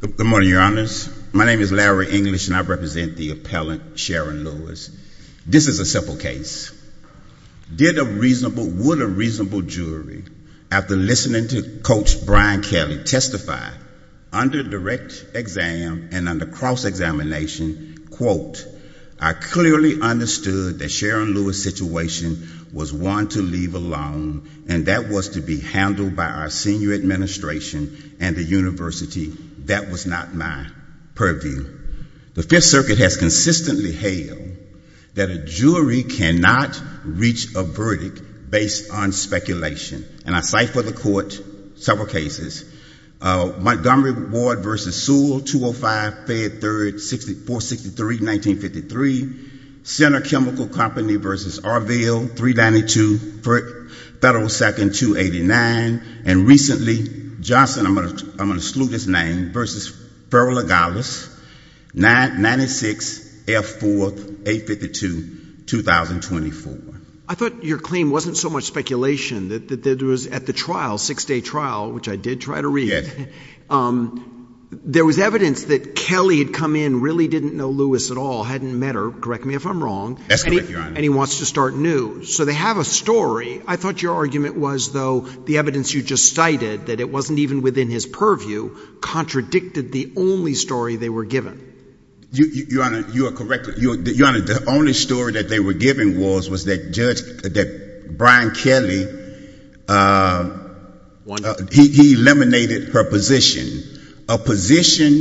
Good morning, Your Honors. My name is Larry English, and I represent the appellant Sharon Lewis. This is a simple case. Did a reasonable, would a reasonable jury, after listening to Coach Brian Kelly testify, under direct exam and under cross-examination, quote, I clearly understood that Sharon Lewis' situation was one to the point where I would not have been able to testify if I hadn't had a reasonable jury. And that was to be handled by our senior administration and the university. That was not my purview. The Fifth Circuit has consistently hailed that a jury cannot reach a verdict based on speculation. And I ciphered the court several cases. Montgomery Ward v. Sewell, 205, Fed 3rd, 6463, 1953. Center Chemical Company v. Arville, 392, Federal 2nd, 289. And recently, Johnson, I'm going to exclude his name, v. Ferrell-Logalis, 96, F-4, 852, 2024. I thought your claim wasn't so much speculation, that it was at the trial, six-day trial, which I did try to read. There was evidence that Kelly had come in, really didn't know Lewis at all, hadn't met her, correct me if I'm wrong. That's correct, Your Honor. And he wants to start new. So they have a story. I thought your argument was, though, the evidence you just cited, that it wasn't even within his purview, contradicted the only story they were given. Your Honor, you are correct. Your Honor, the only story that they were given was that Brian Kelly, he eliminated her position. A position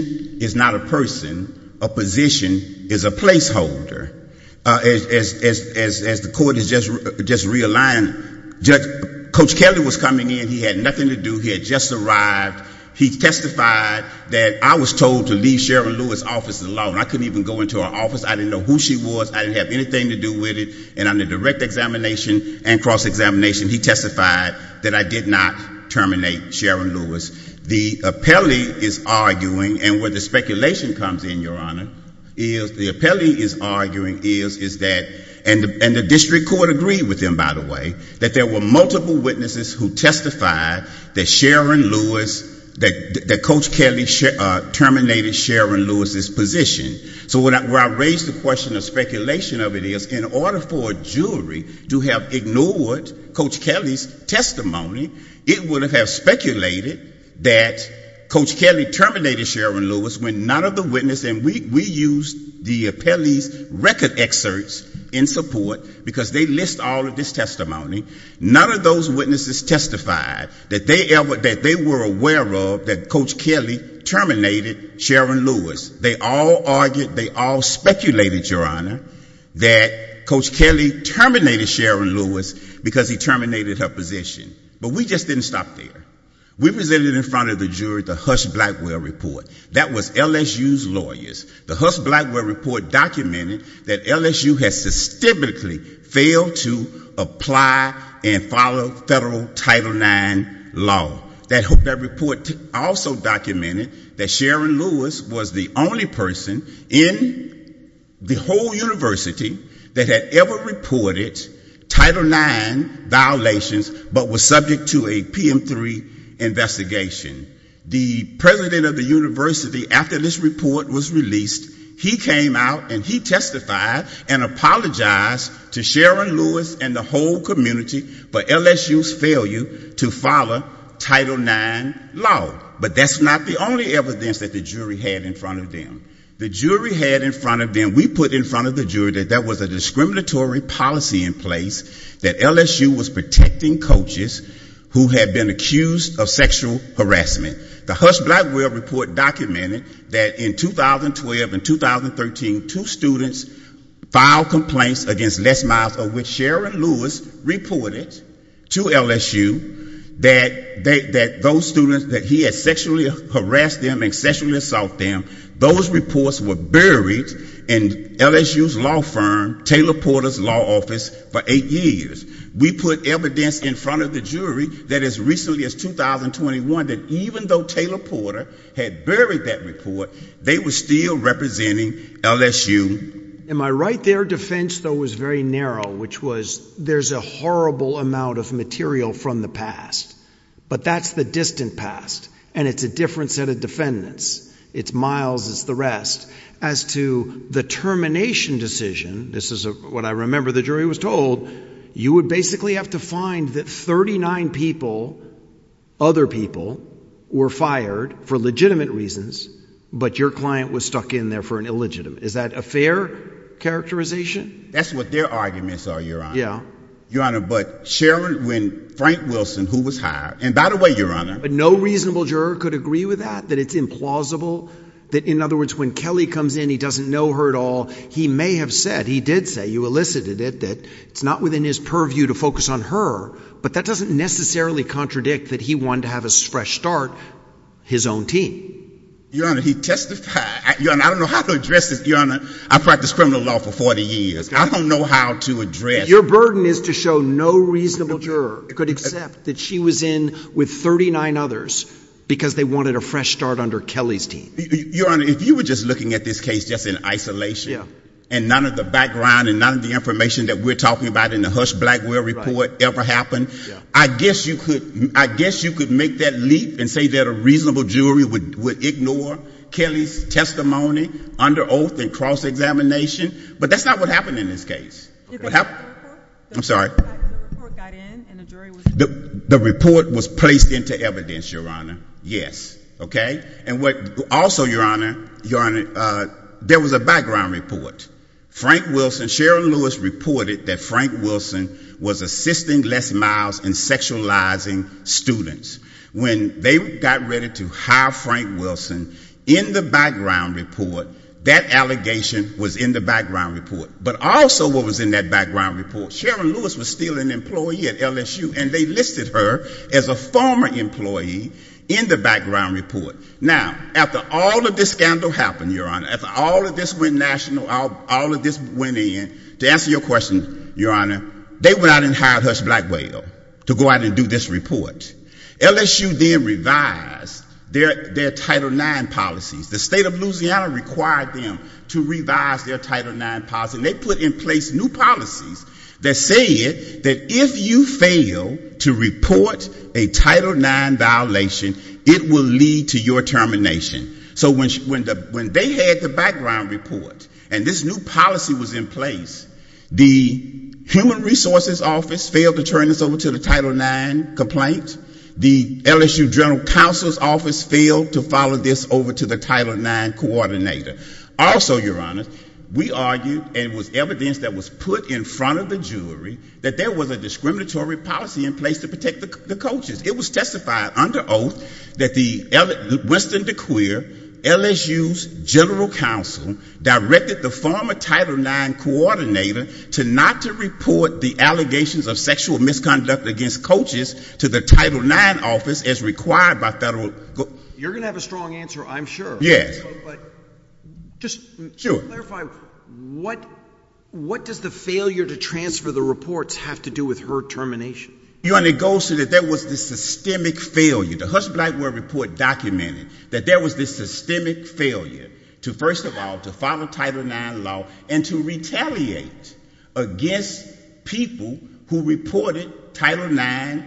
is not a person. A position is a placeholder. As the Court has just realigned, Coach Kelly was coming in. He had nothing to do. He had just arrived. He testified that I was told to leave Sharon Lewis' office alone. I couldn't even go into her office. I didn't know who she was. I didn't have anything to do with it. And under direct examination and cross-examination, he testified that I did not terminate Sharon Lewis. The appellee is arguing, and where the speculation comes in, Your Honor, is the appellee is arguing is that, and the district court agreed with him, by the way, that there were multiple witnesses who testified that Sharon Lewis, that Coach Kelly terminated Sharon Lewis' position. So where I raise the question of speculation of it is, in order for a jury to have ignored Coach Kelly's testimony, it would have speculated that Coach Kelly terminated Sharon Lewis when none of the witnesses, and we used the appellee's record excerpts in support, because they list all of this testimony. None of those witnesses testified that they were aware of that Coach Kelly terminated Sharon Lewis. They all argued, they all speculated, Your Honor, that Coach Kelly terminated Sharon Lewis because he terminated her position. But we just didn't stop there. We presented in front of the jury the Hush Blackwell report. That was LSU's lawyers. The Hush Blackwell report documented that LSU has systemically failed to apply and follow federal Title IX law. That report also documented that Sharon Lewis was the only person in the whole university that had ever reported Title IX violations but was subject to a PM3 investigation. The president of the university, after this report was released, he came out and he testified and apologized to Sharon Lewis and the whole community for LSU's failure to follow Title IX law. But that's not the only evidence that the jury had in front of them. The jury had in front of them, we put in front of the jury that there was a discriminatory policy in place, that LSU was protecting coaches who had been accused of sexual harassment. The Hush Blackwell report documented that in 2012 and 2013, two students filed complaints against Les Miles, of which Sharon Lewis reported to LSU that those students, that he had sexually harassed them and sexually assaulted them, those reports were buried in LSU's law firm, Taylor Porter's law office for eight years. We put evidence in front of the jury that as recently as 2021, that even though Taylor Porter had buried that report, they were still representing LSU. Am I right there? Defense, though, was very narrow, which was there's a horrible amount of material from the past. But that's the distant past. And it's a different set of defendants. It's Miles, it's the rest. As to the termination decision, this is what I remember the jury was told, you would basically have to find that 39 people, other people, were fired for legitimate reasons, but your client was stuck in there for an illegitimate. Is that a fair characterization? That's what their arguments are, Your Honor. Your Honor, but Sharon, when Frank Wilson, who was hired, and by the way, Your Honor. But no reasonable juror could agree with that, that it's implausible, that in other words, when Kelly comes in, he doesn't know her at all. He may have said, he did say, you elicited it, that it's not within his purview to focus on her. But that doesn't necessarily contradict that he wanted to have a fresh start, his own team. Your Honor, he testified. Your Honor, I don't know how to address this. Your Honor, I practiced criminal law for 40 years. I don't know how to address. Your burden is to show no reasonable juror could accept that she was in with 39 others because they wanted a fresh start under Kelly's team. Your Honor, if you were just looking at this case just in isolation, and none of the background and none of the information that we're talking about in the Husch-Blackwell report ever happened, I guess you could make that leap and say that a reasonable jury would ignore Kelly's testimony under oath and cross-examination, but that's not what happened in this case. I'm sorry. The report got in and the jury was... The report was placed into evidence, Your Honor. Yes. Okay? And also, Your Honor, there was a background report. Frank Wilson, Sharon Lewis reported that Frank Wilson was assisting Les Miles in sexualizing students. When they got ready to hire Frank Wilson in the background report, that allegation was in the background report. But also what was in that background report, Sharon Lewis was still an employee at LSU and they listed her as a former employee in the background report. Now, after all of this scandal happened, Your Honor, after all of this went national, all of this went in, to answer your question, Your Honor, they went out and hired Husch-Blackwell to go out and do this report. LSU then revised their Title IX policies. The State of Louisiana required them to revise their Title IX policies and they put in place new policies that said that if you fail to report a Title IX violation, it will lead to your termination. So when they had the background report and this new policy was in place, the Human Resources Office failed to turn this over to the Title IX complaint. The LSU General Counsel's Office failed to follow this over to the Title IX coordinator. Also, Your Honor, we argued, and it was evidence that was put in front of the jury, that there was a discriminatory policy in place to protect the coaches. It was testified under oath that Winston DeQueer, LSU's General Counsel, directed the former Title IX coordinator not to report the allegations of sexual misconduct against coaches to the Title IX office as required by federal law. You're going to have a strong answer, I'm sure. Yes. Just to clarify, what does the failure to transfer the reports have to do with her termination? Your Honor, it goes to that there was this systemic failure. The Hutch Blackwell Report documented that there was this systemic failure to, first of all, to follow Title IX law and to retaliate against people who reported Title IX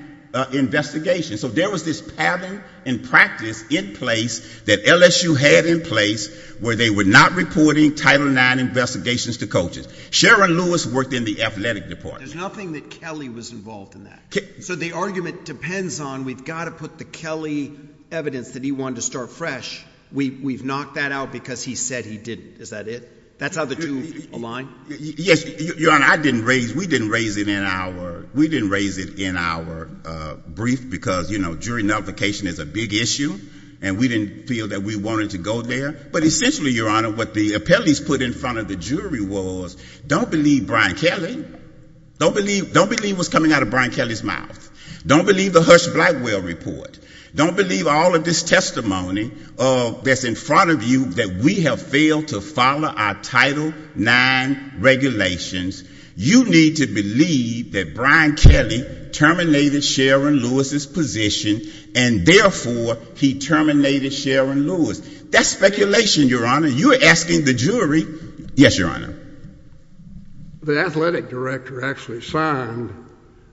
investigations. So there was this pattern and practice in place that LSU had in place where they were not reporting Title IX investigations to coaches. Sharon Lewis worked in the Athletic Department. There's nothing that Kelly was involved in that. So the argument depends on we've got to put the Kelly evidence that he wanted to start fresh. We've knocked that out because he said he didn't. Is that it? That's how the two align? Your Honor, we didn't raise it in our brief because, you know, jury notification is a big issue and we didn't feel that we wanted to go there. But essentially, Your Honor, what the appellees put in front of the jury was, don't believe Brian Kelly. Don't believe what's coming out of Brian Kelly's mouth. Don't believe the Hutch Blackwell Report. Don't believe all of this testimony that's in front of you that we have failed to follow our Title IX regulations. You need to believe that Brian Kelly terminated Sharon Lewis's position and, therefore, he terminated Sharon Lewis. That's speculation, Your Honor. You're asking the jury. Yes, Your Honor. The athletic director actually signed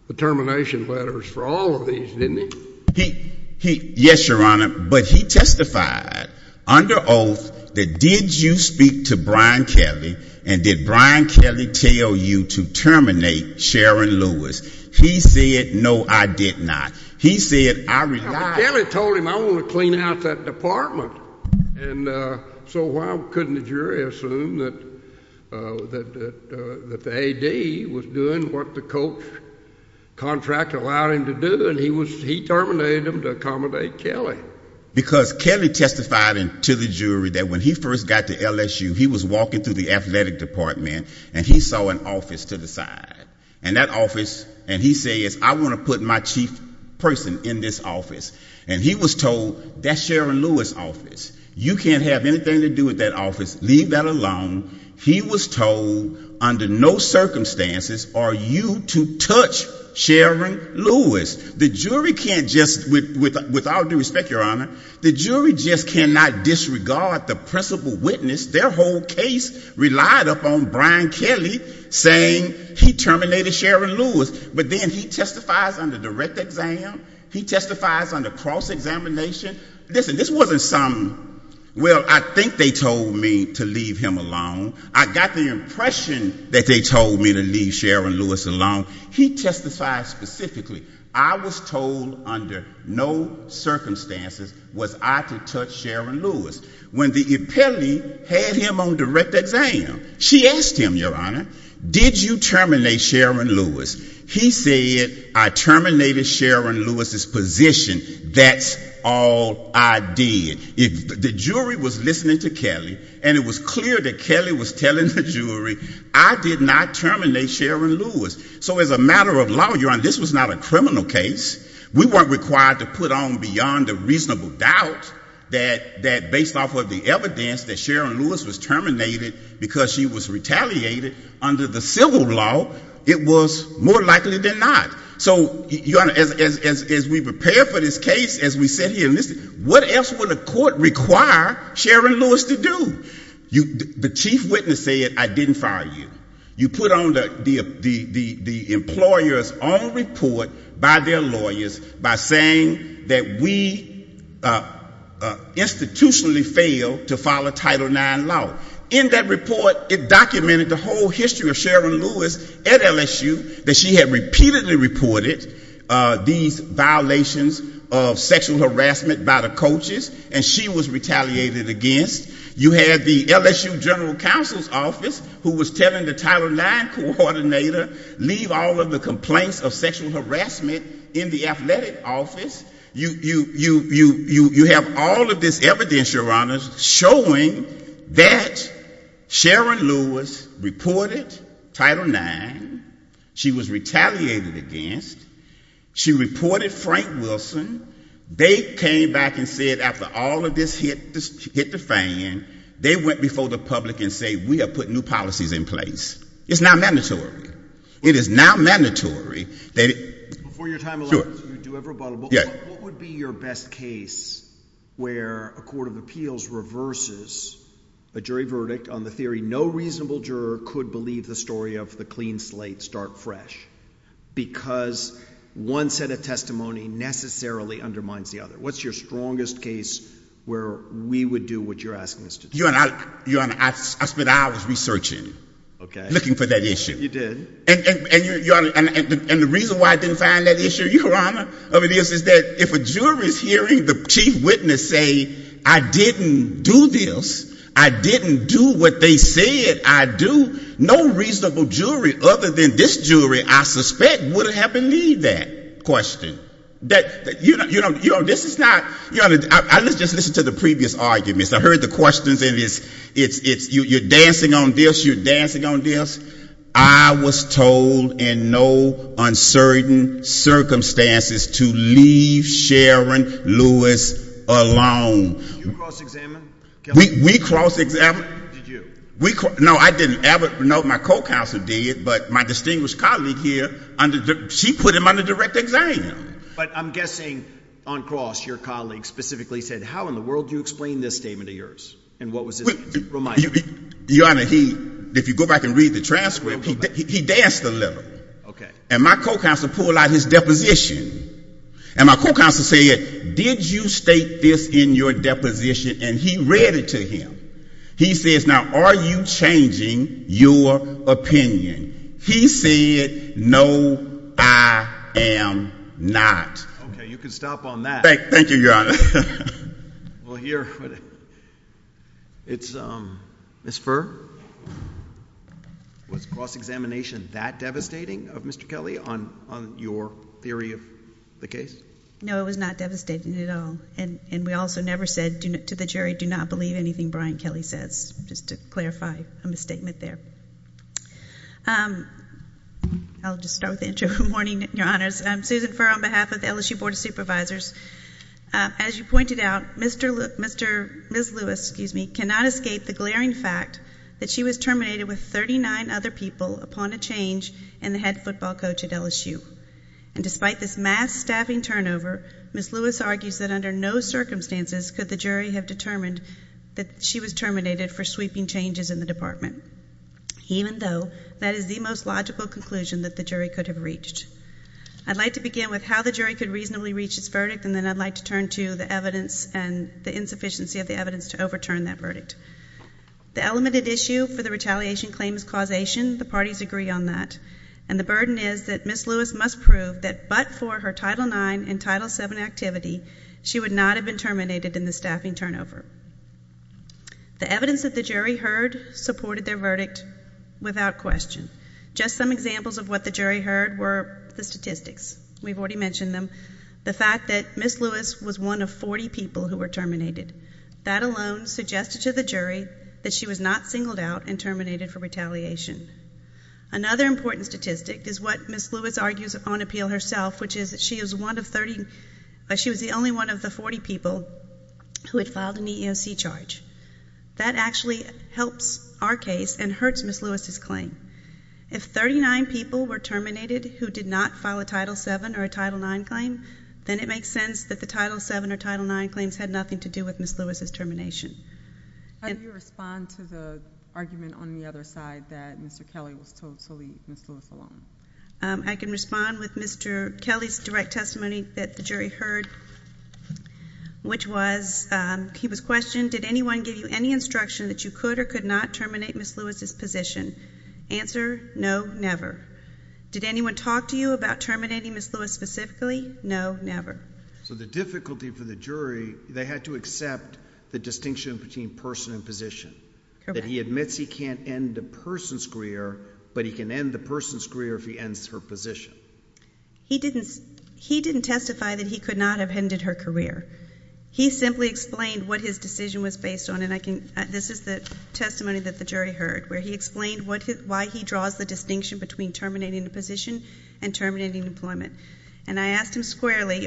the termination letters for all of these, didn't he? Yes, Your Honor. But he testified under oath that, did you speak to Brian Kelly and did Brian Kelly tell you to terminate Sharon Lewis? He said, no, I did not. He said, I relied. Brian Kelly told him, I want to clean out that department. And so why couldn't the jury assume that the AD was doing what the coach contract allowed him to do and he terminated him to accommodate Kelly? Because Kelly testified to the jury that when he first got to LSU, he was walking through the athletic department and he saw an office to the side. And that office, and he says, I want to put my chief person in this office. And he was told, that's Sharon Lewis's office. You can't have anything to do with that office. Leave that alone. He was told under no circumstances are you to touch Sharon Lewis. The jury can't just, with all due respect, Your Honor, the jury just cannot disregard the principal witness. Their whole case relied upon Brian Kelly saying he terminated Sharon Lewis. But then he testifies under direct exam. He testifies under cross-examination. Listen, this wasn't some, well, I think they told me to leave him alone. I got the impression that they told me to leave Sharon Lewis alone. He testified specifically, I was told under no circumstances was I to touch Sharon Lewis. When the appellee had him on direct exam, she asked him, Your Honor, did you terminate Sharon Lewis? He said, I terminated Sharon Lewis's position. That's all I did. The jury was listening to Kelly and it was clear that Kelly was telling the jury, I did not terminate Sharon Lewis. So as a matter of law, Your Honor, this was not a criminal case. We weren't required to put on beyond a reasonable doubt that based off of the evidence that Sharon Lewis was terminated because she was retaliated under the civil law, it was more likely than not. So, Your Honor, as we prepare for this case, as we sit here and listen, what else would a court require Sharon Lewis to do? The chief witness said, I didn't fire you. You put on the employer's own report by their lawyers by saying that we institutionally failed to follow Title IX law. In that report, it documented the whole history of Sharon Lewis at LSU, that she had repeatedly reported these violations of sexual harassment by the coaches and she was retaliated against. You had the LSU general counsel's office who was telling the Title IX coordinator, leave all of the complaints of sexual harassment in the athletic office. You have all of this evidence, Your Honor, showing that Sharon Lewis reported Title IX. She was retaliated against. She reported Frank Wilson. They came back and said after all of this hit the fan, they went before the public and said we are putting new policies in place. It's not mandatory. It is not mandatory. Before your time elapses, you do have rebuttal, but what would be your best case where a court of appeals reverses a jury verdict on the theory no reasonable juror could believe the story of the clean slate, start fresh, because one set of testimony necessarily undermines the other? What's your strongest case where we would do what you're asking us to do? Your Honor, I spent hours researching, looking for that issue. You did. And the reason why I didn't find that issue, Your Honor, is that if a jury is hearing the chief witness say I didn't do this, I didn't do what they said I do, no reasonable jury other than this jury I suspect would have believed that question. Your Honor, let's just listen to the previous arguments. I heard the questions. You're dancing on this. You're dancing on this. I was told in no uncertain circumstances to leave Sharon Lewis alone. Did you cross-examine? We cross-examined. Did you? No, I didn't. No, my co-counsel did, but my distinguished colleague here, she put him under direct exam. But I'm guessing on cross your colleague specifically said how in the world do you explain this statement of yours? And what was his reminder? Your Honor, if you go back and read the transcript, he danced a little. Okay. And my co-counsel pulled out his deposition. And my co-counsel said, did you state this in your deposition? And he read it to him. He says, now, are you changing your opinion? He said, no, I am not. Okay. You can stop on that. Thank you, Your Honor. Well, here, it's Ms. Furr. Was cross-examination that devastating of Mr. Kelly on your theory of the case? No, it was not devastating at all. And we also never said to the jury, do not believe anything Brian Kelly says, just to clarify a misstatement there. I'll just start with the intro. Good morning, Your Honors. I'm Susan Furr on behalf of the LSU Board of Supervisors. As you pointed out, Ms. Lewis cannot escape the glaring fact that she was terminated with 39 other people upon a change in the head football coach at LSU. And despite this mass staffing turnover, Ms. Lewis argues that under no circumstances could the jury have determined that she was terminated for sweeping changes in the department, even though that is the most logical conclusion that the jury could have reached. I'd like to begin with how the jury could reasonably reach its verdict, and then I'd like to turn to the evidence and the insufficiency of the evidence to overturn that verdict. The elemented issue for the retaliation claim is causation. The parties agree on that. And the burden is that Ms. Lewis must prove that but for her Title IX and Title VII activity, she would not have been terminated in the staffing turnover. The evidence that the jury heard supported their verdict without question. Just some examples of what the jury heard were the statistics. We've already mentioned them. The fact that Ms. Lewis was one of 40 people who were terminated. That alone suggested to the jury that she was not singled out and terminated for retaliation. Another important statistic is what Ms. Lewis argues on appeal herself, which is that she was the only one of the 40 people who had filed an EEOC charge. That actually helps our case and hurts Ms. Lewis's claim. If 39 people were terminated who did not file a Title VII or a Title IX claim, then it makes sense that the Title VII or Title IX claims had nothing to do with Ms. Lewis's termination. How do you respond to the argument on the other side that Mr. Kelly was told to leave Ms. Lewis alone? I can respond with Mr. Kelly's direct testimony that the jury heard, which was he was questioned, did anyone give you any instruction that you could or could not terminate Ms. Lewis's position? Answer, no, never. Did anyone talk to you about terminating Ms. Lewis specifically? No, never. So the difficulty for the jury, they had to accept the distinction between person and position, that he admits he can't end the person's career, but he can end the person's career if he ends her position. He didn't testify that he could not have ended her career. He simply explained what his decision was based on, and this is the testimony that the jury heard, where he explained why he draws the distinction between terminating a position and terminating employment. And I asked him squarely,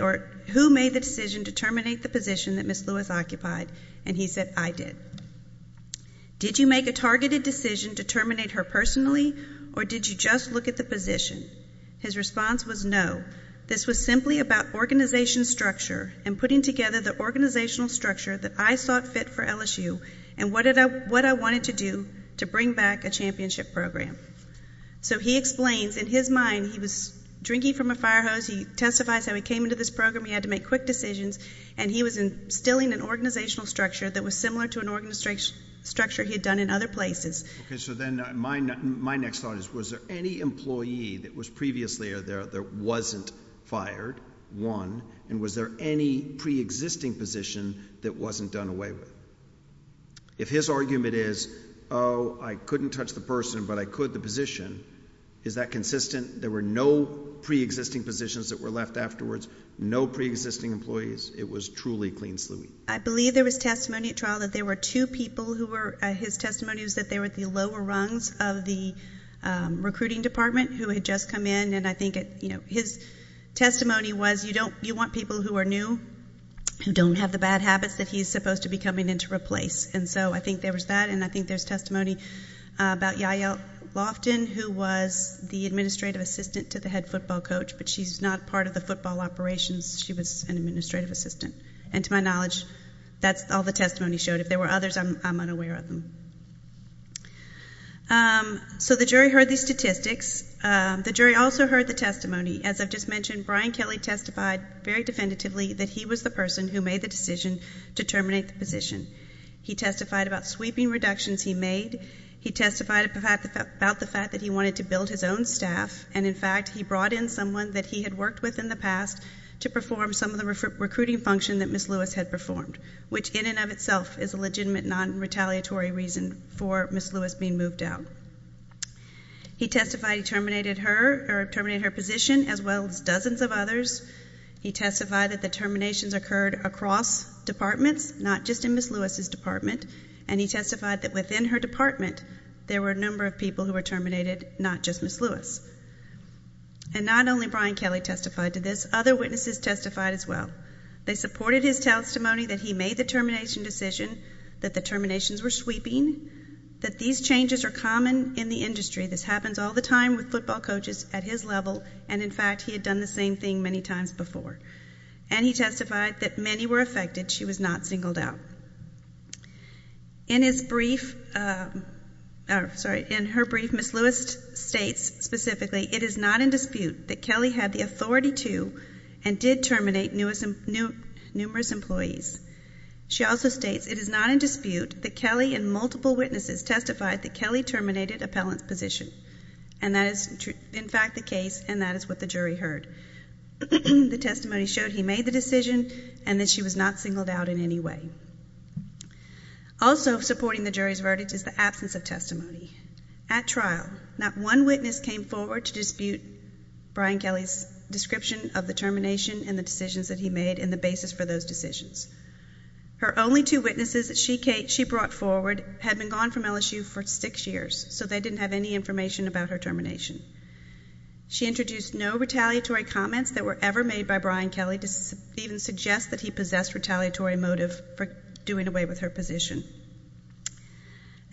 who made the decision to terminate the position that Ms. Lewis occupied? And he said, I did. Did you make a targeted decision to terminate her personally, or did you just look at the position? His response was, no, this was simply about organization structure and putting together the organizational structure that I sought fit for LSU and what I wanted to do to bring back a championship program. So he explains, in his mind, he was drinking from a fire hose, he testifies how he came into this program, he had to make quick decisions, and he was instilling an organizational structure that was similar to an organizational structure he had done in other places. Okay, so then my next thought is, was there any employee that was previously there that wasn't fired, one, and was there any preexisting position that wasn't done away with? If his argument is, oh, I couldn't touch the person, but I could the position, is that consistent? There were no preexisting positions that were left afterwards, no preexisting employees? It was truly clean-sleuthing. I believe there was testimony at trial that there were two people who were, his testimony was that they were at the lower rungs of the recruiting department who had just come in, and I think his testimony was, you want people who are new, who don't have the bad habits that he's supposed to be coming in to replace. And so I think there was that, and I think there's testimony about Yael Loftin, who was the administrative assistant to the head football coach, but she's not part of the football operations, she was an administrative assistant. And to my knowledge, that's all the testimony showed. If there were others, I'm unaware of them. So the jury heard these statistics. The jury also heard the testimony. As I've just mentioned, Brian Kelly testified very definitively that he was the person who made the decision to terminate the position. He testified about sweeping reductions he made. He testified about the fact that he wanted to build his own staff, and, in fact, he brought in someone that he had worked with in the past to perform some of the recruiting function that Ms. Lewis had performed, which in and of itself is a legitimate non-retaliatory reason for Ms. Lewis being moved out. He testified he terminated her position as well as dozens of others. He testified that the terminations occurred across departments, not just in Ms. Lewis's department, and he testified that within her department there were a number of people who were terminated, not just Ms. Lewis. And not only Brian Kelly testified to this, other witnesses testified as well. They supported his testimony that he made the termination decision, that the terminations were sweeping, that these changes are common in the industry. This happens all the time with football coaches at his level, and, in fact, he had done the same thing many times before. And he testified that many were affected. She was not singled out. In her brief, Ms. Lewis states specifically, it is not in dispute that Kelly had the authority to and did terminate numerous employees. She also states it is not in dispute that Kelly and multiple witnesses testified that Kelly terminated appellant's position. And that is, in fact, the case, and that is what the jury heard. The testimony showed he made the decision and that she was not singled out in any way. Also supporting the jury's verdict is the absence of testimony. At trial, not one witness came forward to dispute Brian Kelly's description of the termination and the decisions that he made and the basis for those decisions. Her only two witnesses that she brought forward had been gone from LSU for six years, so they didn't have any information about her termination. She introduced no retaliatory comments that were ever made by Brian Kelly to even suggest that he possessed retaliatory motive for doing away with her position.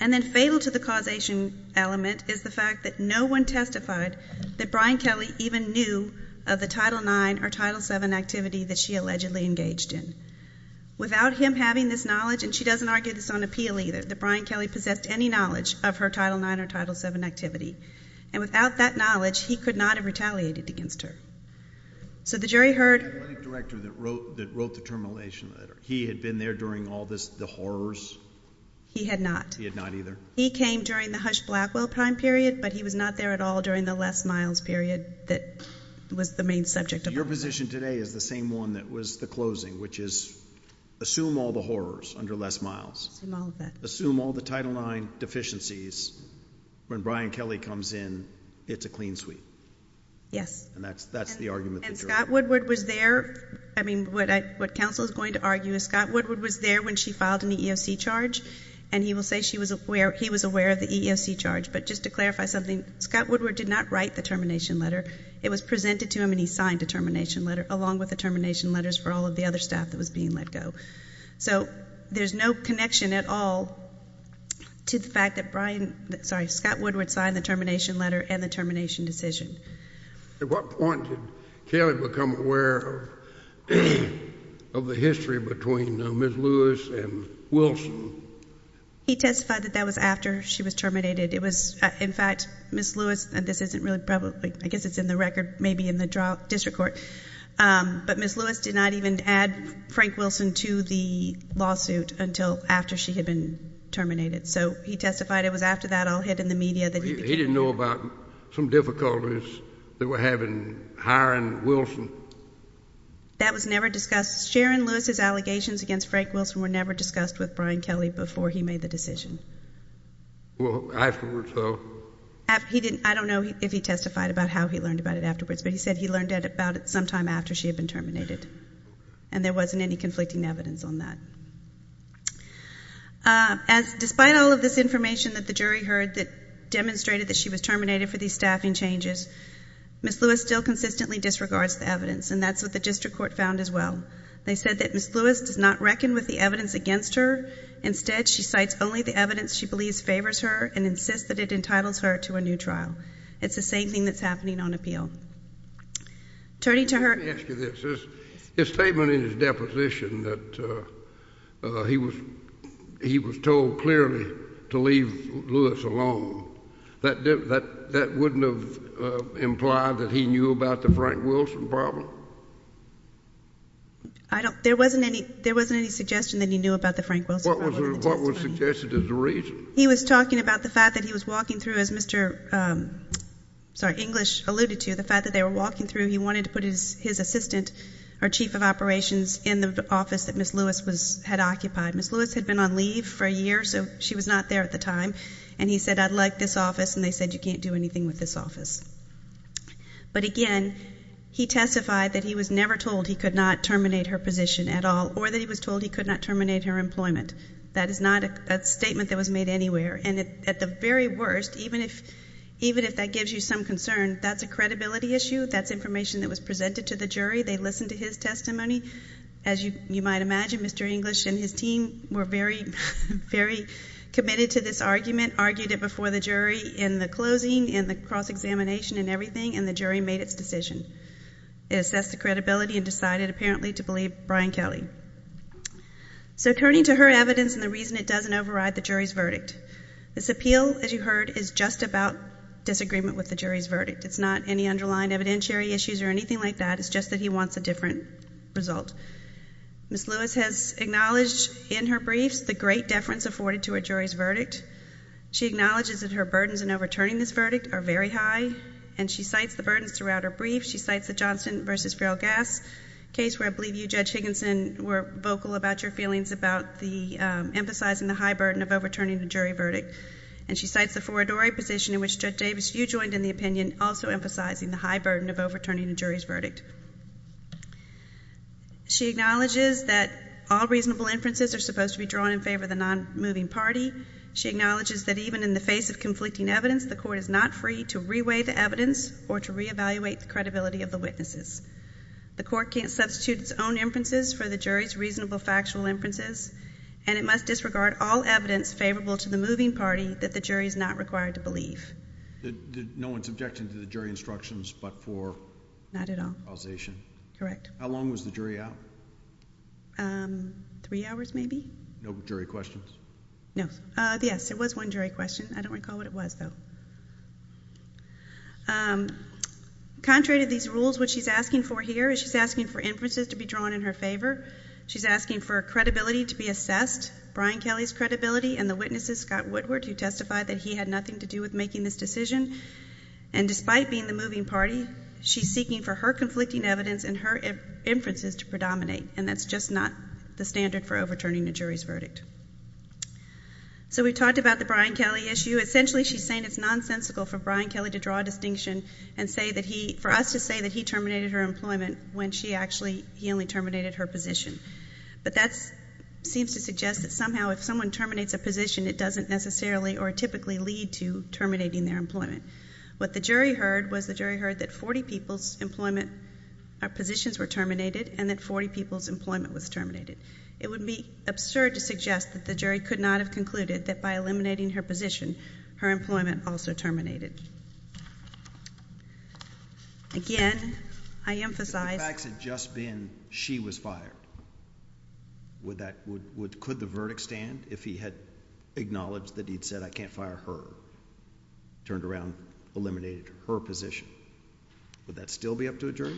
And then fatal to the causation element is the fact that no one testified that Brian Kelly even knew of the Title IX or Title VII activity that she allegedly engaged in. Without him having this knowledge, and she doesn't argue this on appeal either, that Brian Kelly possessed any knowledge of her Title IX or Title VII activity. And without that knowledge, he could not have retaliated against her. So the jury heard... The late director that wrote the termination letter, he had been there during all this, the horrors? He had not. He had not either? He came during the Hush Blackwell time period, but he was not there at all during the Les Miles period that was the main subject of... Your position today is the same one that was the closing, which is assume all the horrors under Les Miles. Assume all of that. Assume all the Title IX deficiencies. When Brian Kelly comes in, it's a clean sweep. Yes. And that's the argument that the jury... And Scott Woodward was there. I mean, what counsel is going to argue is Scott Woodward was there when she filed an EEOC charge, and he will say he was aware of the EEOC charge. But just to clarify something, Scott Woodward did not write the termination letter. It was presented to him, and he signed the termination letter, along with the termination letters for all of the other staff that was being let go. So there's no connection at all to the fact that Scott Woodward signed the termination letter and the termination decision. At what point did Kelly become aware of the history between Ms. Lewis and Wilson? He testified that that was after she was terminated. It was, in fact, Ms. Lewis, and this isn't really public. I guess it's in the record, maybe in the district court. But Ms. Lewis did not even add Frank Wilson to the lawsuit until after she had been terminated. So he testified it was after that all hit in the media that he became... They were hiring Wilson. That was never discussed. Sharon Lewis's allegations against Frank Wilson were never discussed with Brian Kelly before he made the decision. Well, afterwards, though. I don't know if he testified about how he learned about it afterwards, but he said he learned about it sometime after she had been terminated, and there wasn't any conflicting evidence on that. Despite all of this information that the jury heard that demonstrated that she was terminated for these staffing changes, Ms. Lewis still consistently disregards the evidence, and that's what the district court found as well. They said that Ms. Lewis does not reckon with the evidence against her. Instead, she cites only the evidence she believes favors her and insists that it entitles her to a new trial. It's the same thing that's happening on appeal. Let me ask you this. His statement in his deposition that he was told clearly to leave Lewis alone, that wouldn't have implied that he knew about the Frank Wilson problem? There wasn't any suggestion that he knew about the Frank Wilson problem. What was suggested as the reason? He was talking about the fact that he was walking through, as Mr. English alluded to, the fact that they were walking through, he wanted to put his assistant, or chief of operations, in the office that Ms. Lewis had occupied. Ms. Lewis had been on leave for a year, so she was not there at the time, and he said, I'd like this office, and they said, you can't do anything with this office. But again, he testified that he was never told he could not terminate her position at all, or that he was told he could not terminate her employment. That is not a statement that was made anywhere, and at the very worst, even if that gives you some concern, that's a credibility issue. That's information that was presented to the jury. They listened to his testimony. As you might imagine, Mr. English and his team were very committed to this argument, argued it before the jury in the closing and the cross-examination and everything, and the jury made its decision. It assessed the credibility and decided apparently to believe Brian Kelly. So turning to her evidence and the reason it doesn't override the jury's verdict, this appeal, as you heard, is just about disagreement with the jury's verdict. It's not any underlined evidentiary issues or anything like that. It's just that he wants a different result. Ms. Lewis has acknowledged in her briefs the great deference afforded to a jury's verdict. She acknowledges that her burdens in overturning this verdict are very high, and she cites the burdens throughout her brief. She cites the Johnston v. Ferrell-Gass case where I believe you, Judge Higginson, were vocal about your feelings about emphasizing the high burden of overturning a jury verdict, and she cites the Foridori position in which Judge Davis, you joined in the opinion, also emphasizing the high burden of overturning a jury's verdict. She acknowledges that all reasonable inferences are supposed to be drawn in favor of the non-moving party. She acknowledges that even in the face of conflicting evidence, the court is not free to re-weigh the evidence or to re-evaluate the credibility of the witnesses. The court can't substitute its own inferences for the jury's reasonable factual inferences, and it must disregard all evidence favorable to the moving party that the jury is not required to believe. No one's objecting to the jury instructions but for causation? Not at all. Correct. How long was the jury out? Three hours maybe? No jury questions? No. Yes, there was one jury question. I don't recall what it was, though. Contrary to these rules, what she's asking for here is she's asking for inferences to be drawn in her favor. She's asking for credibility to be assessed, Brian Kelly's credibility, and the witnesses, Scott Woodward, who testified that he had nothing to do with making this decision. And despite being the moving party, she's seeking for her conflicting evidence and her inferences to predominate, and that's just not the standard for overturning a jury's verdict. So we talked about the Brian Kelly issue. So essentially she's saying it's nonsensical for Brian Kelly to draw a distinction and say that he, for us to say that he terminated her employment when she actually, he only terminated her position. But that seems to suggest that somehow if someone terminates a position, it doesn't necessarily or typically lead to terminating their employment. What the jury heard was the jury heard that 40 people's employment positions were terminated and that 40 people's employment was terminated. It would be absurd to suggest that the jury could not have concluded that by eliminating her position, her employment also terminated. Again, I emphasize. If the facts had just been she was fired, would that, would, could the verdict stand if he had acknowledged that he'd said I can't fire her, turned around, eliminated her position? Would that still be up to a jury?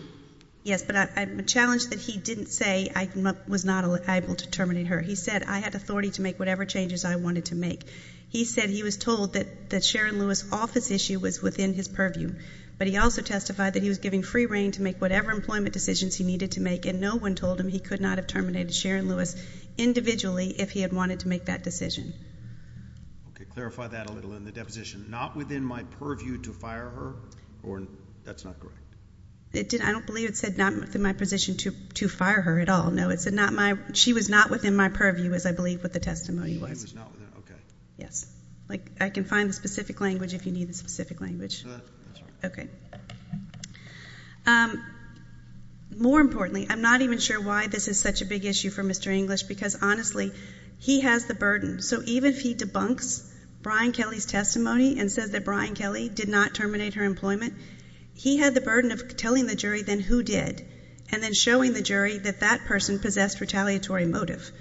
Yes, but I'm challenged that he didn't say I was not able to terminate her. He said I had authority to make whatever changes I wanted to make. He said he was told that Sharon Lewis' office issue was within his purview, but he also testified that he was giving free reign to make whatever employment decisions he needed to make, and no one told him he could not have terminated Sharon Lewis individually if he had wanted to make that decision. Okay, clarify that a little in the deposition. Not within my purview to fire her? That's not correct. I don't believe it said not within my position to fire her at all. No, it said she was not within my purview, as I believe what the testimony was. Okay. Yes. I can find the specific language if you need the specific language. Okay. More importantly, I'm not even sure why this is such a big issue for Mr. English because, honestly, he has the burden. So even if he debunks Brian Kelly's testimony and says that Brian Kelly did not terminate her employment, he had the burden of telling the jury then who did, and then showing the jury that that person possessed retaliatory motive.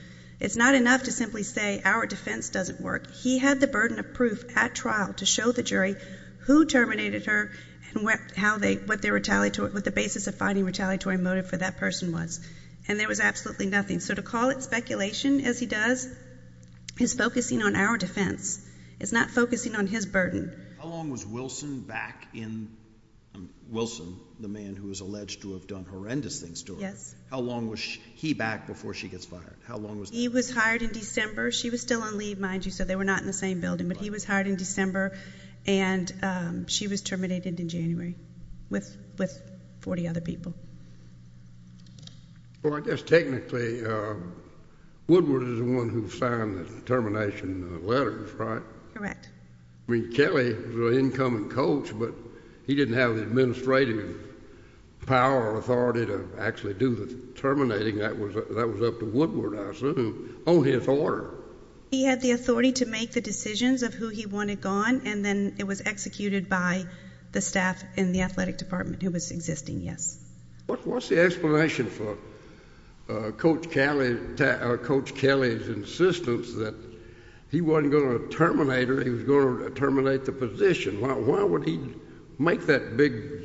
It's not enough to simply say our defense doesn't work. He had the burden of proof at trial to show the jury who terminated her and what the basis of finding retaliatory motive for that person was, and there was absolutely nothing. So to call it speculation, as he does, is focusing on our defense. It's not focusing on his burden. How long was Wilson back in Wilson, the man who was alleged to have done horrendous things to her? Yes. How long was he back before she gets fired? He was hired in December. She was still on leave, mind you, so they were not in the same building, but he was hired in December and she was terminated in January with 40 other people. Well, I guess technically Woodward is the one who signed the termination letters, right? I mean, Kelly was an incoming coach, but he didn't have the administrative power or authority to actually do the terminating. That was up to Woodward, I assume, on his order. He had the authority to make the decisions of who he wanted gone, and then it was executed by the staff in the athletic department who was existing, yes. What's the explanation for Coach Kelly's insistence that he wasn't going to terminate her, he was going to terminate the position? Why would he make that big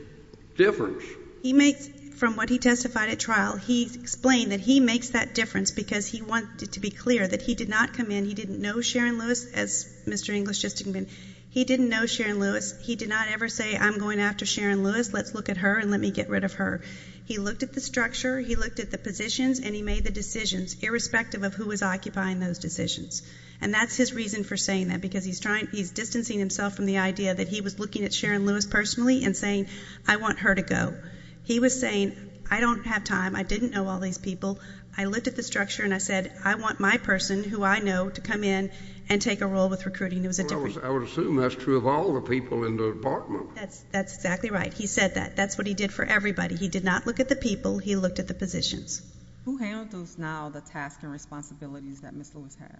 difference? He makes, from what he testified at trial, he explained that he makes that difference because he wanted to be clear that he did not come in, he didn't know Sharon Lewis, as Mr. English just explained, he didn't know Sharon Lewis, he did not ever say, I'm going after Sharon Lewis, let's look at her and let me get rid of her. He looked at the structure, he looked at the positions, and he made the decisions, irrespective of who was occupying those decisions. And that's his reason for saying that, because he's distancing himself from the idea that he was looking at Sharon Lewis personally and saying, I want her to go. He was saying, I don't have time, I didn't know all these people, I looked at the structure and I said, I want my person, who I know, to come in and take a role with recruiting. I would assume that's true of all the people in the department. That's exactly right. He said that. That's what he did for everybody. He did not look at the people, he looked at the positions. Who handles now the tasks and responsibilities that Ms. Lewis had?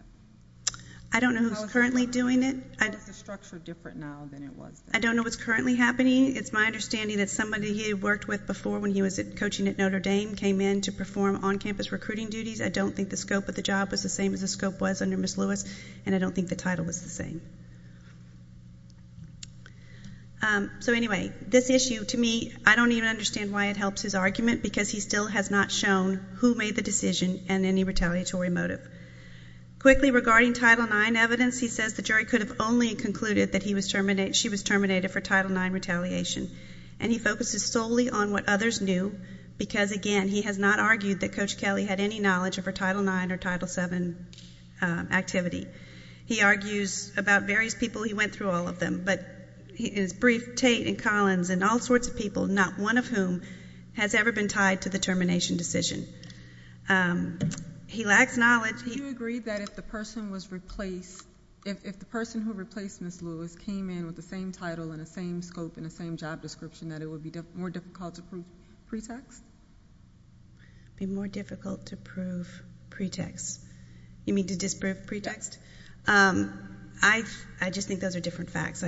I don't know who's currently doing it. How is the structure different now than it was then? I don't know what's currently happening. It's my understanding that somebody he worked with before when he was coaching at Notre Dame came in to perform on-campus recruiting duties. I don't think the scope of the job was the same as the scope was under Ms. Lewis, and I don't think the title was the same. So anyway, this issue, to me, I don't even understand why it helps his argument because he still has not shown who made the decision and any retaliatory motive. Quickly, regarding Title IX evidence, he says the jury could have only concluded that she was terminated for Title IX retaliation, and he focuses solely on what others knew because, again, he has not argued that Coach Kelly had any knowledge of her Title IX or Title VII activity. He argues about various people. He went through all of them, but his brief, Tate and Collins and all sorts of people, not one of whom has ever been tied to the termination decision. He lacks knowledge. Do you agree that if the person who replaced Ms. Lewis came in with the same title and the same scope and the same job description, that it would be more difficult to prove pretext? Be more difficult to prove pretext. You mean to disprove pretext? I just think those are different facts.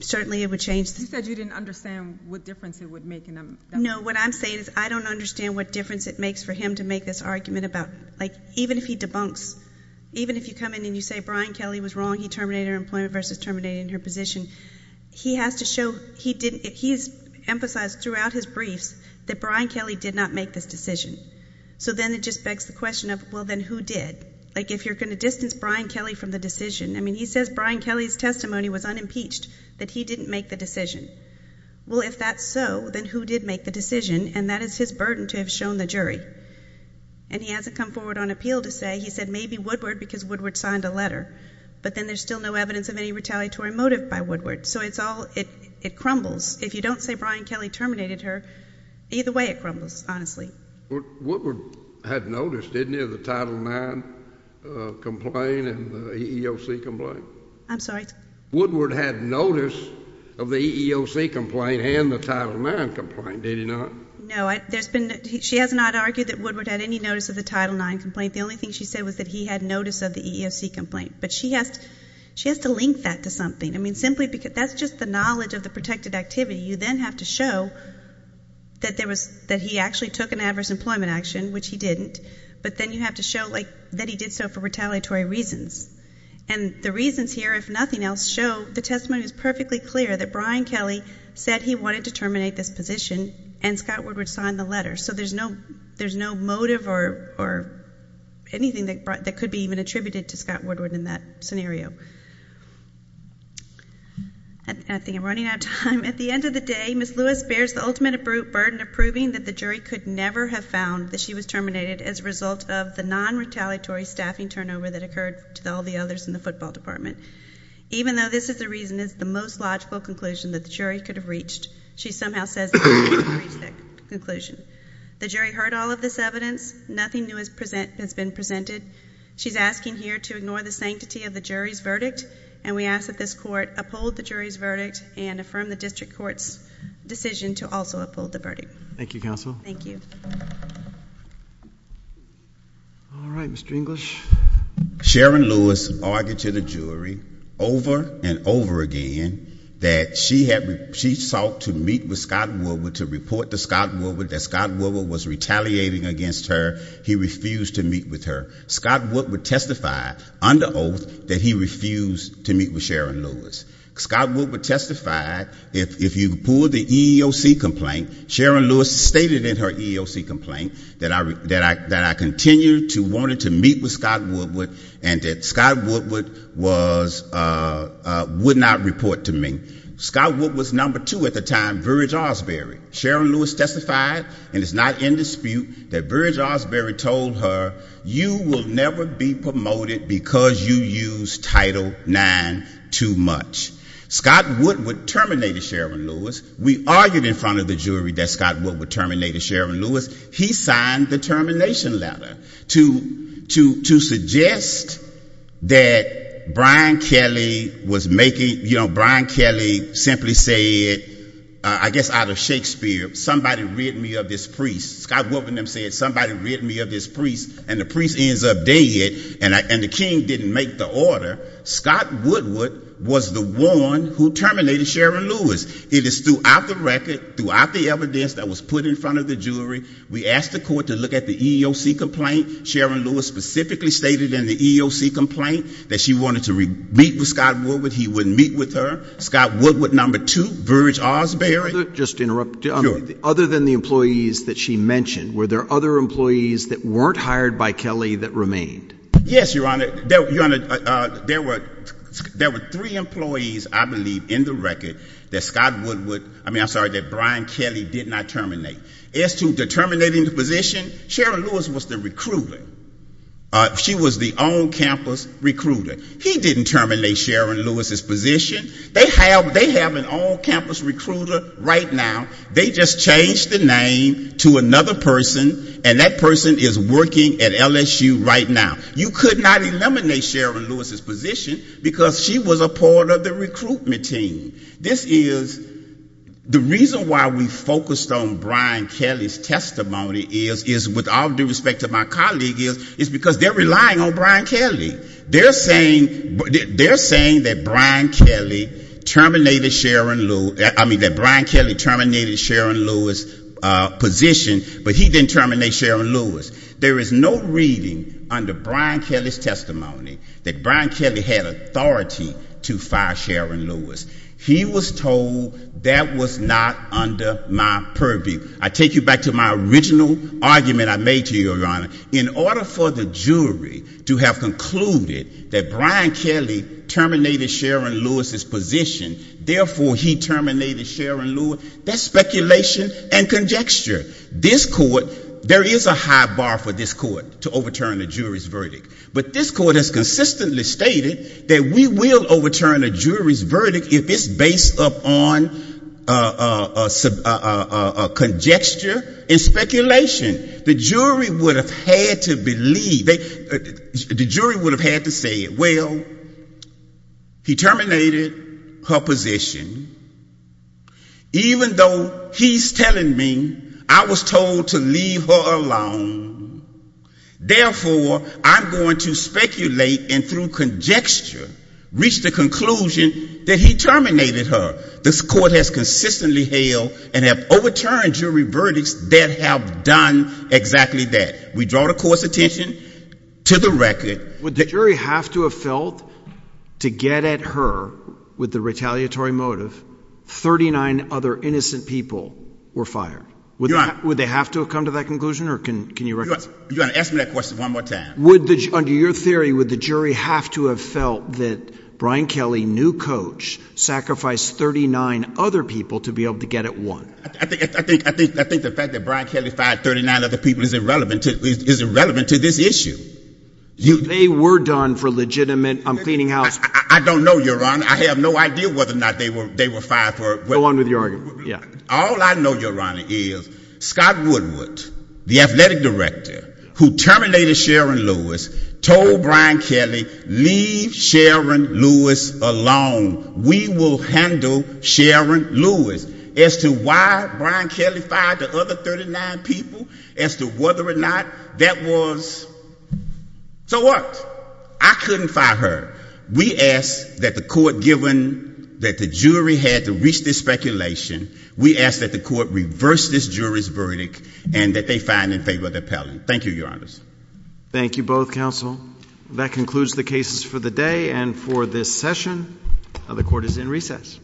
Certainly it would change. You said you didn't understand what difference it would make. No, what I'm saying is I don't understand what difference it makes for him to make this argument about, like, even if he debunks, even if you come in and you say Brian Kelly was wrong, he terminated her employment versus terminating her position, he has to show he didn't emphasize throughout his briefs that Brian Kelly did not make this decision. So then it just begs the question of, well, then who did? Like, if you're going to distance Brian Kelly from the decision, I mean, he says Brian Kelly's testimony was unimpeached, that he didn't make the decision. Well, if that's so, then who did make the decision? And that is his burden to have shown the jury. And he hasn't come forward on appeal to say, he said maybe Woodward because Woodward signed a letter. But then there's still no evidence of any retaliatory motive by Woodward. So it's all, it crumbles. If you don't say Brian Kelly terminated her, either way it crumbles, honestly. Woodward had notice, didn't he, of the Title IX complaint and the EEOC complaint? I'm sorry? Woodward had notice of the EEOC complaint and the Title IX complaint, did he not? No, there's been, she has not argued that Woodward had any notice of the Title IX complaint. The only thing she said was that he had notice of the EEOC complaint. But she has to link that to something. I mean, simply because that's just the knowledge of the protected activity. You then have to show that there was, that he actually took an adverse employment action, which he didn't. But then you have to show, like, that he did so for retaliatory reasons. And the reasons here, if nothing else, show the testimony is perfectly clear, that Brian Kelly said he wanted to terminate this position and Scott Woodward signed the letter. So there's no motive or anything that could be even attributed to Scott Woodward in that scenario. I think I'm running out of time. At the end of the day, Ms. Lewis bears the ultimate burden of proving that the jury could never have found that she was terminated as a result of the non-retaliatory staffing turnover that occurred to all the others in the football department. Even though this is the reason it's the most logical conclusion that the jury could have reached, she somehow says the jury couldn't have reached that conclusion. The jury heard all of this evidence. Nothing new has been presented. She's asking here to ignore the sanctity of the jury's verdict, and we ask that this court uphold the jury's verdict and affirm the district court's decision to also uphold the verdict. Thank you, counsel. Thank you. All right, Mr. English. Sharon Lewis argued to the jury over and over again that she sought to meet with Scott Woodward to report to Scott Woodward that Scott Woodward was retaliating against her. He refused to meet with her. Scott Woodward testified under oath that he refused to meet with Sharon Lewis. Scott Woodward testified, if you pull the EEOC complaint, Sharon Lewis stated in her EEOC complaint that I continued to want to meet with Scott Woodward and that Scott Woodward would not report to me. Scott Woodward's number two at the time, Virge Osbury. Sharon Lewis testified, and it's not in dispute, that Virge Osbury told her, you will never be promoted because you use Title IX too much. Scott Woodward terminated Sharon Lewis. We argued in front of the jury that Scott Woodward terminated Sharon Lewis. He signed the termination letter to suggest that Brian Kelly was making, you know, Brian Kelly simply said, I guess out of Shakespeare, somebody rid me of this priest. Scott Woodward and them said somebody rid me of this priest, and the priest ends up dead, and the king didn't make the order. Scott Woodward was the one who terminated Sharon Lewis. It is throughout the record, throughout the evidence that was put in front of the jury, we asked the court to look at the EEOC complaint. Sharon Lewis specifically stated in the EEOC complaint that she wanted to meet with Scott Woodward. He wouldn't meet with her. Scott Woodward, number two, Virge Osbury. Just to interrupt. Sure. Other than the employees that she mentioned, were there other employees that weren't hired by Kelly that remained? Yes, Your Honor. There were three employees, I believe, in the record that Brian Kelly did not terminate. As to terminating the position, Sharon Lewis was the recruiter. She was the on-campus recruiter. He didn't terminate Sharon Lewis's position. They have an on-campus recruiter right now. They just changed the name to another person, and that person is working at LSU right now. You could not eliminate Sharon Lewis's position because she was a part of the recruitment team. This is the reason why we focused on Brian Kelly's testimony is, with all due respect to my colleague, is because they're relying on Brian Kelly. They're saying that Brian Kelly terminated Sharon Lewis's position, but he didn't terminate Sharon Lewis. There is no reading under Brian Kelly's testimony that Brian Kelly had authority to fire Sharon Lewis. He was told that was not under my purview. I take you back to my original argument I made to you, Your Honor. In order for the jury to have concluded that Brian Kelly terminated Sharon Lewis's position, therefore he terminated Sharon Lewis, that's speculation and conjecture. This court, there is a high bar for this court to overturn a jury's verdict. But this court has consistently stated that we will overturn a jury's verdict if it's based upon conjecture and speculation. The jury would have had to believe, the jury would have had to say, well, he terminated her position, even though he's telling me I was told to leave her alone. Therefore, I'm going to speculate and through conjecture reach the conclusion that he terminated her. This court has consistently held and have overturned jury verdicts that have done exactly that. We draw the court's attention to the record. Would the jury have to have felt to get at her with the retaliatory motive, 39 other innocent people were fired? Your Honor. Would they have to have come to that conclusion or can you recommend? Your Honor, ask me that question one more time. Under your theory, would the jury have to have felt that Brian Kelly, new coach, sacrificed 39 other people to be able to get at one? I think the fact that Brian Kelly fired 39 other people is irrelevant to this issue. They were done for legitimate cleaning house. I don't know, Your Honor. I have no idea whether or not they were fired. Go on with your argument. All I know, Your Honor, is Scott Woodward, the athletic director, who terminated Sharon Lewis, told Brian Kelly, leave Sharon Lewis alone. We will handle Sharon Lewis. As to why Brian Kelly fired the other 39 people, as to whether or not that was, so what? I couldn't fire her. We ask that the court, given that the jury had to reach this speculation, we ask that the court reverse this jury's verdict and that they find in favor of the appellant. Thank you, Your Honor. Thank you both, counsel. That concludes the cases for the day and for this session. The court is in recess.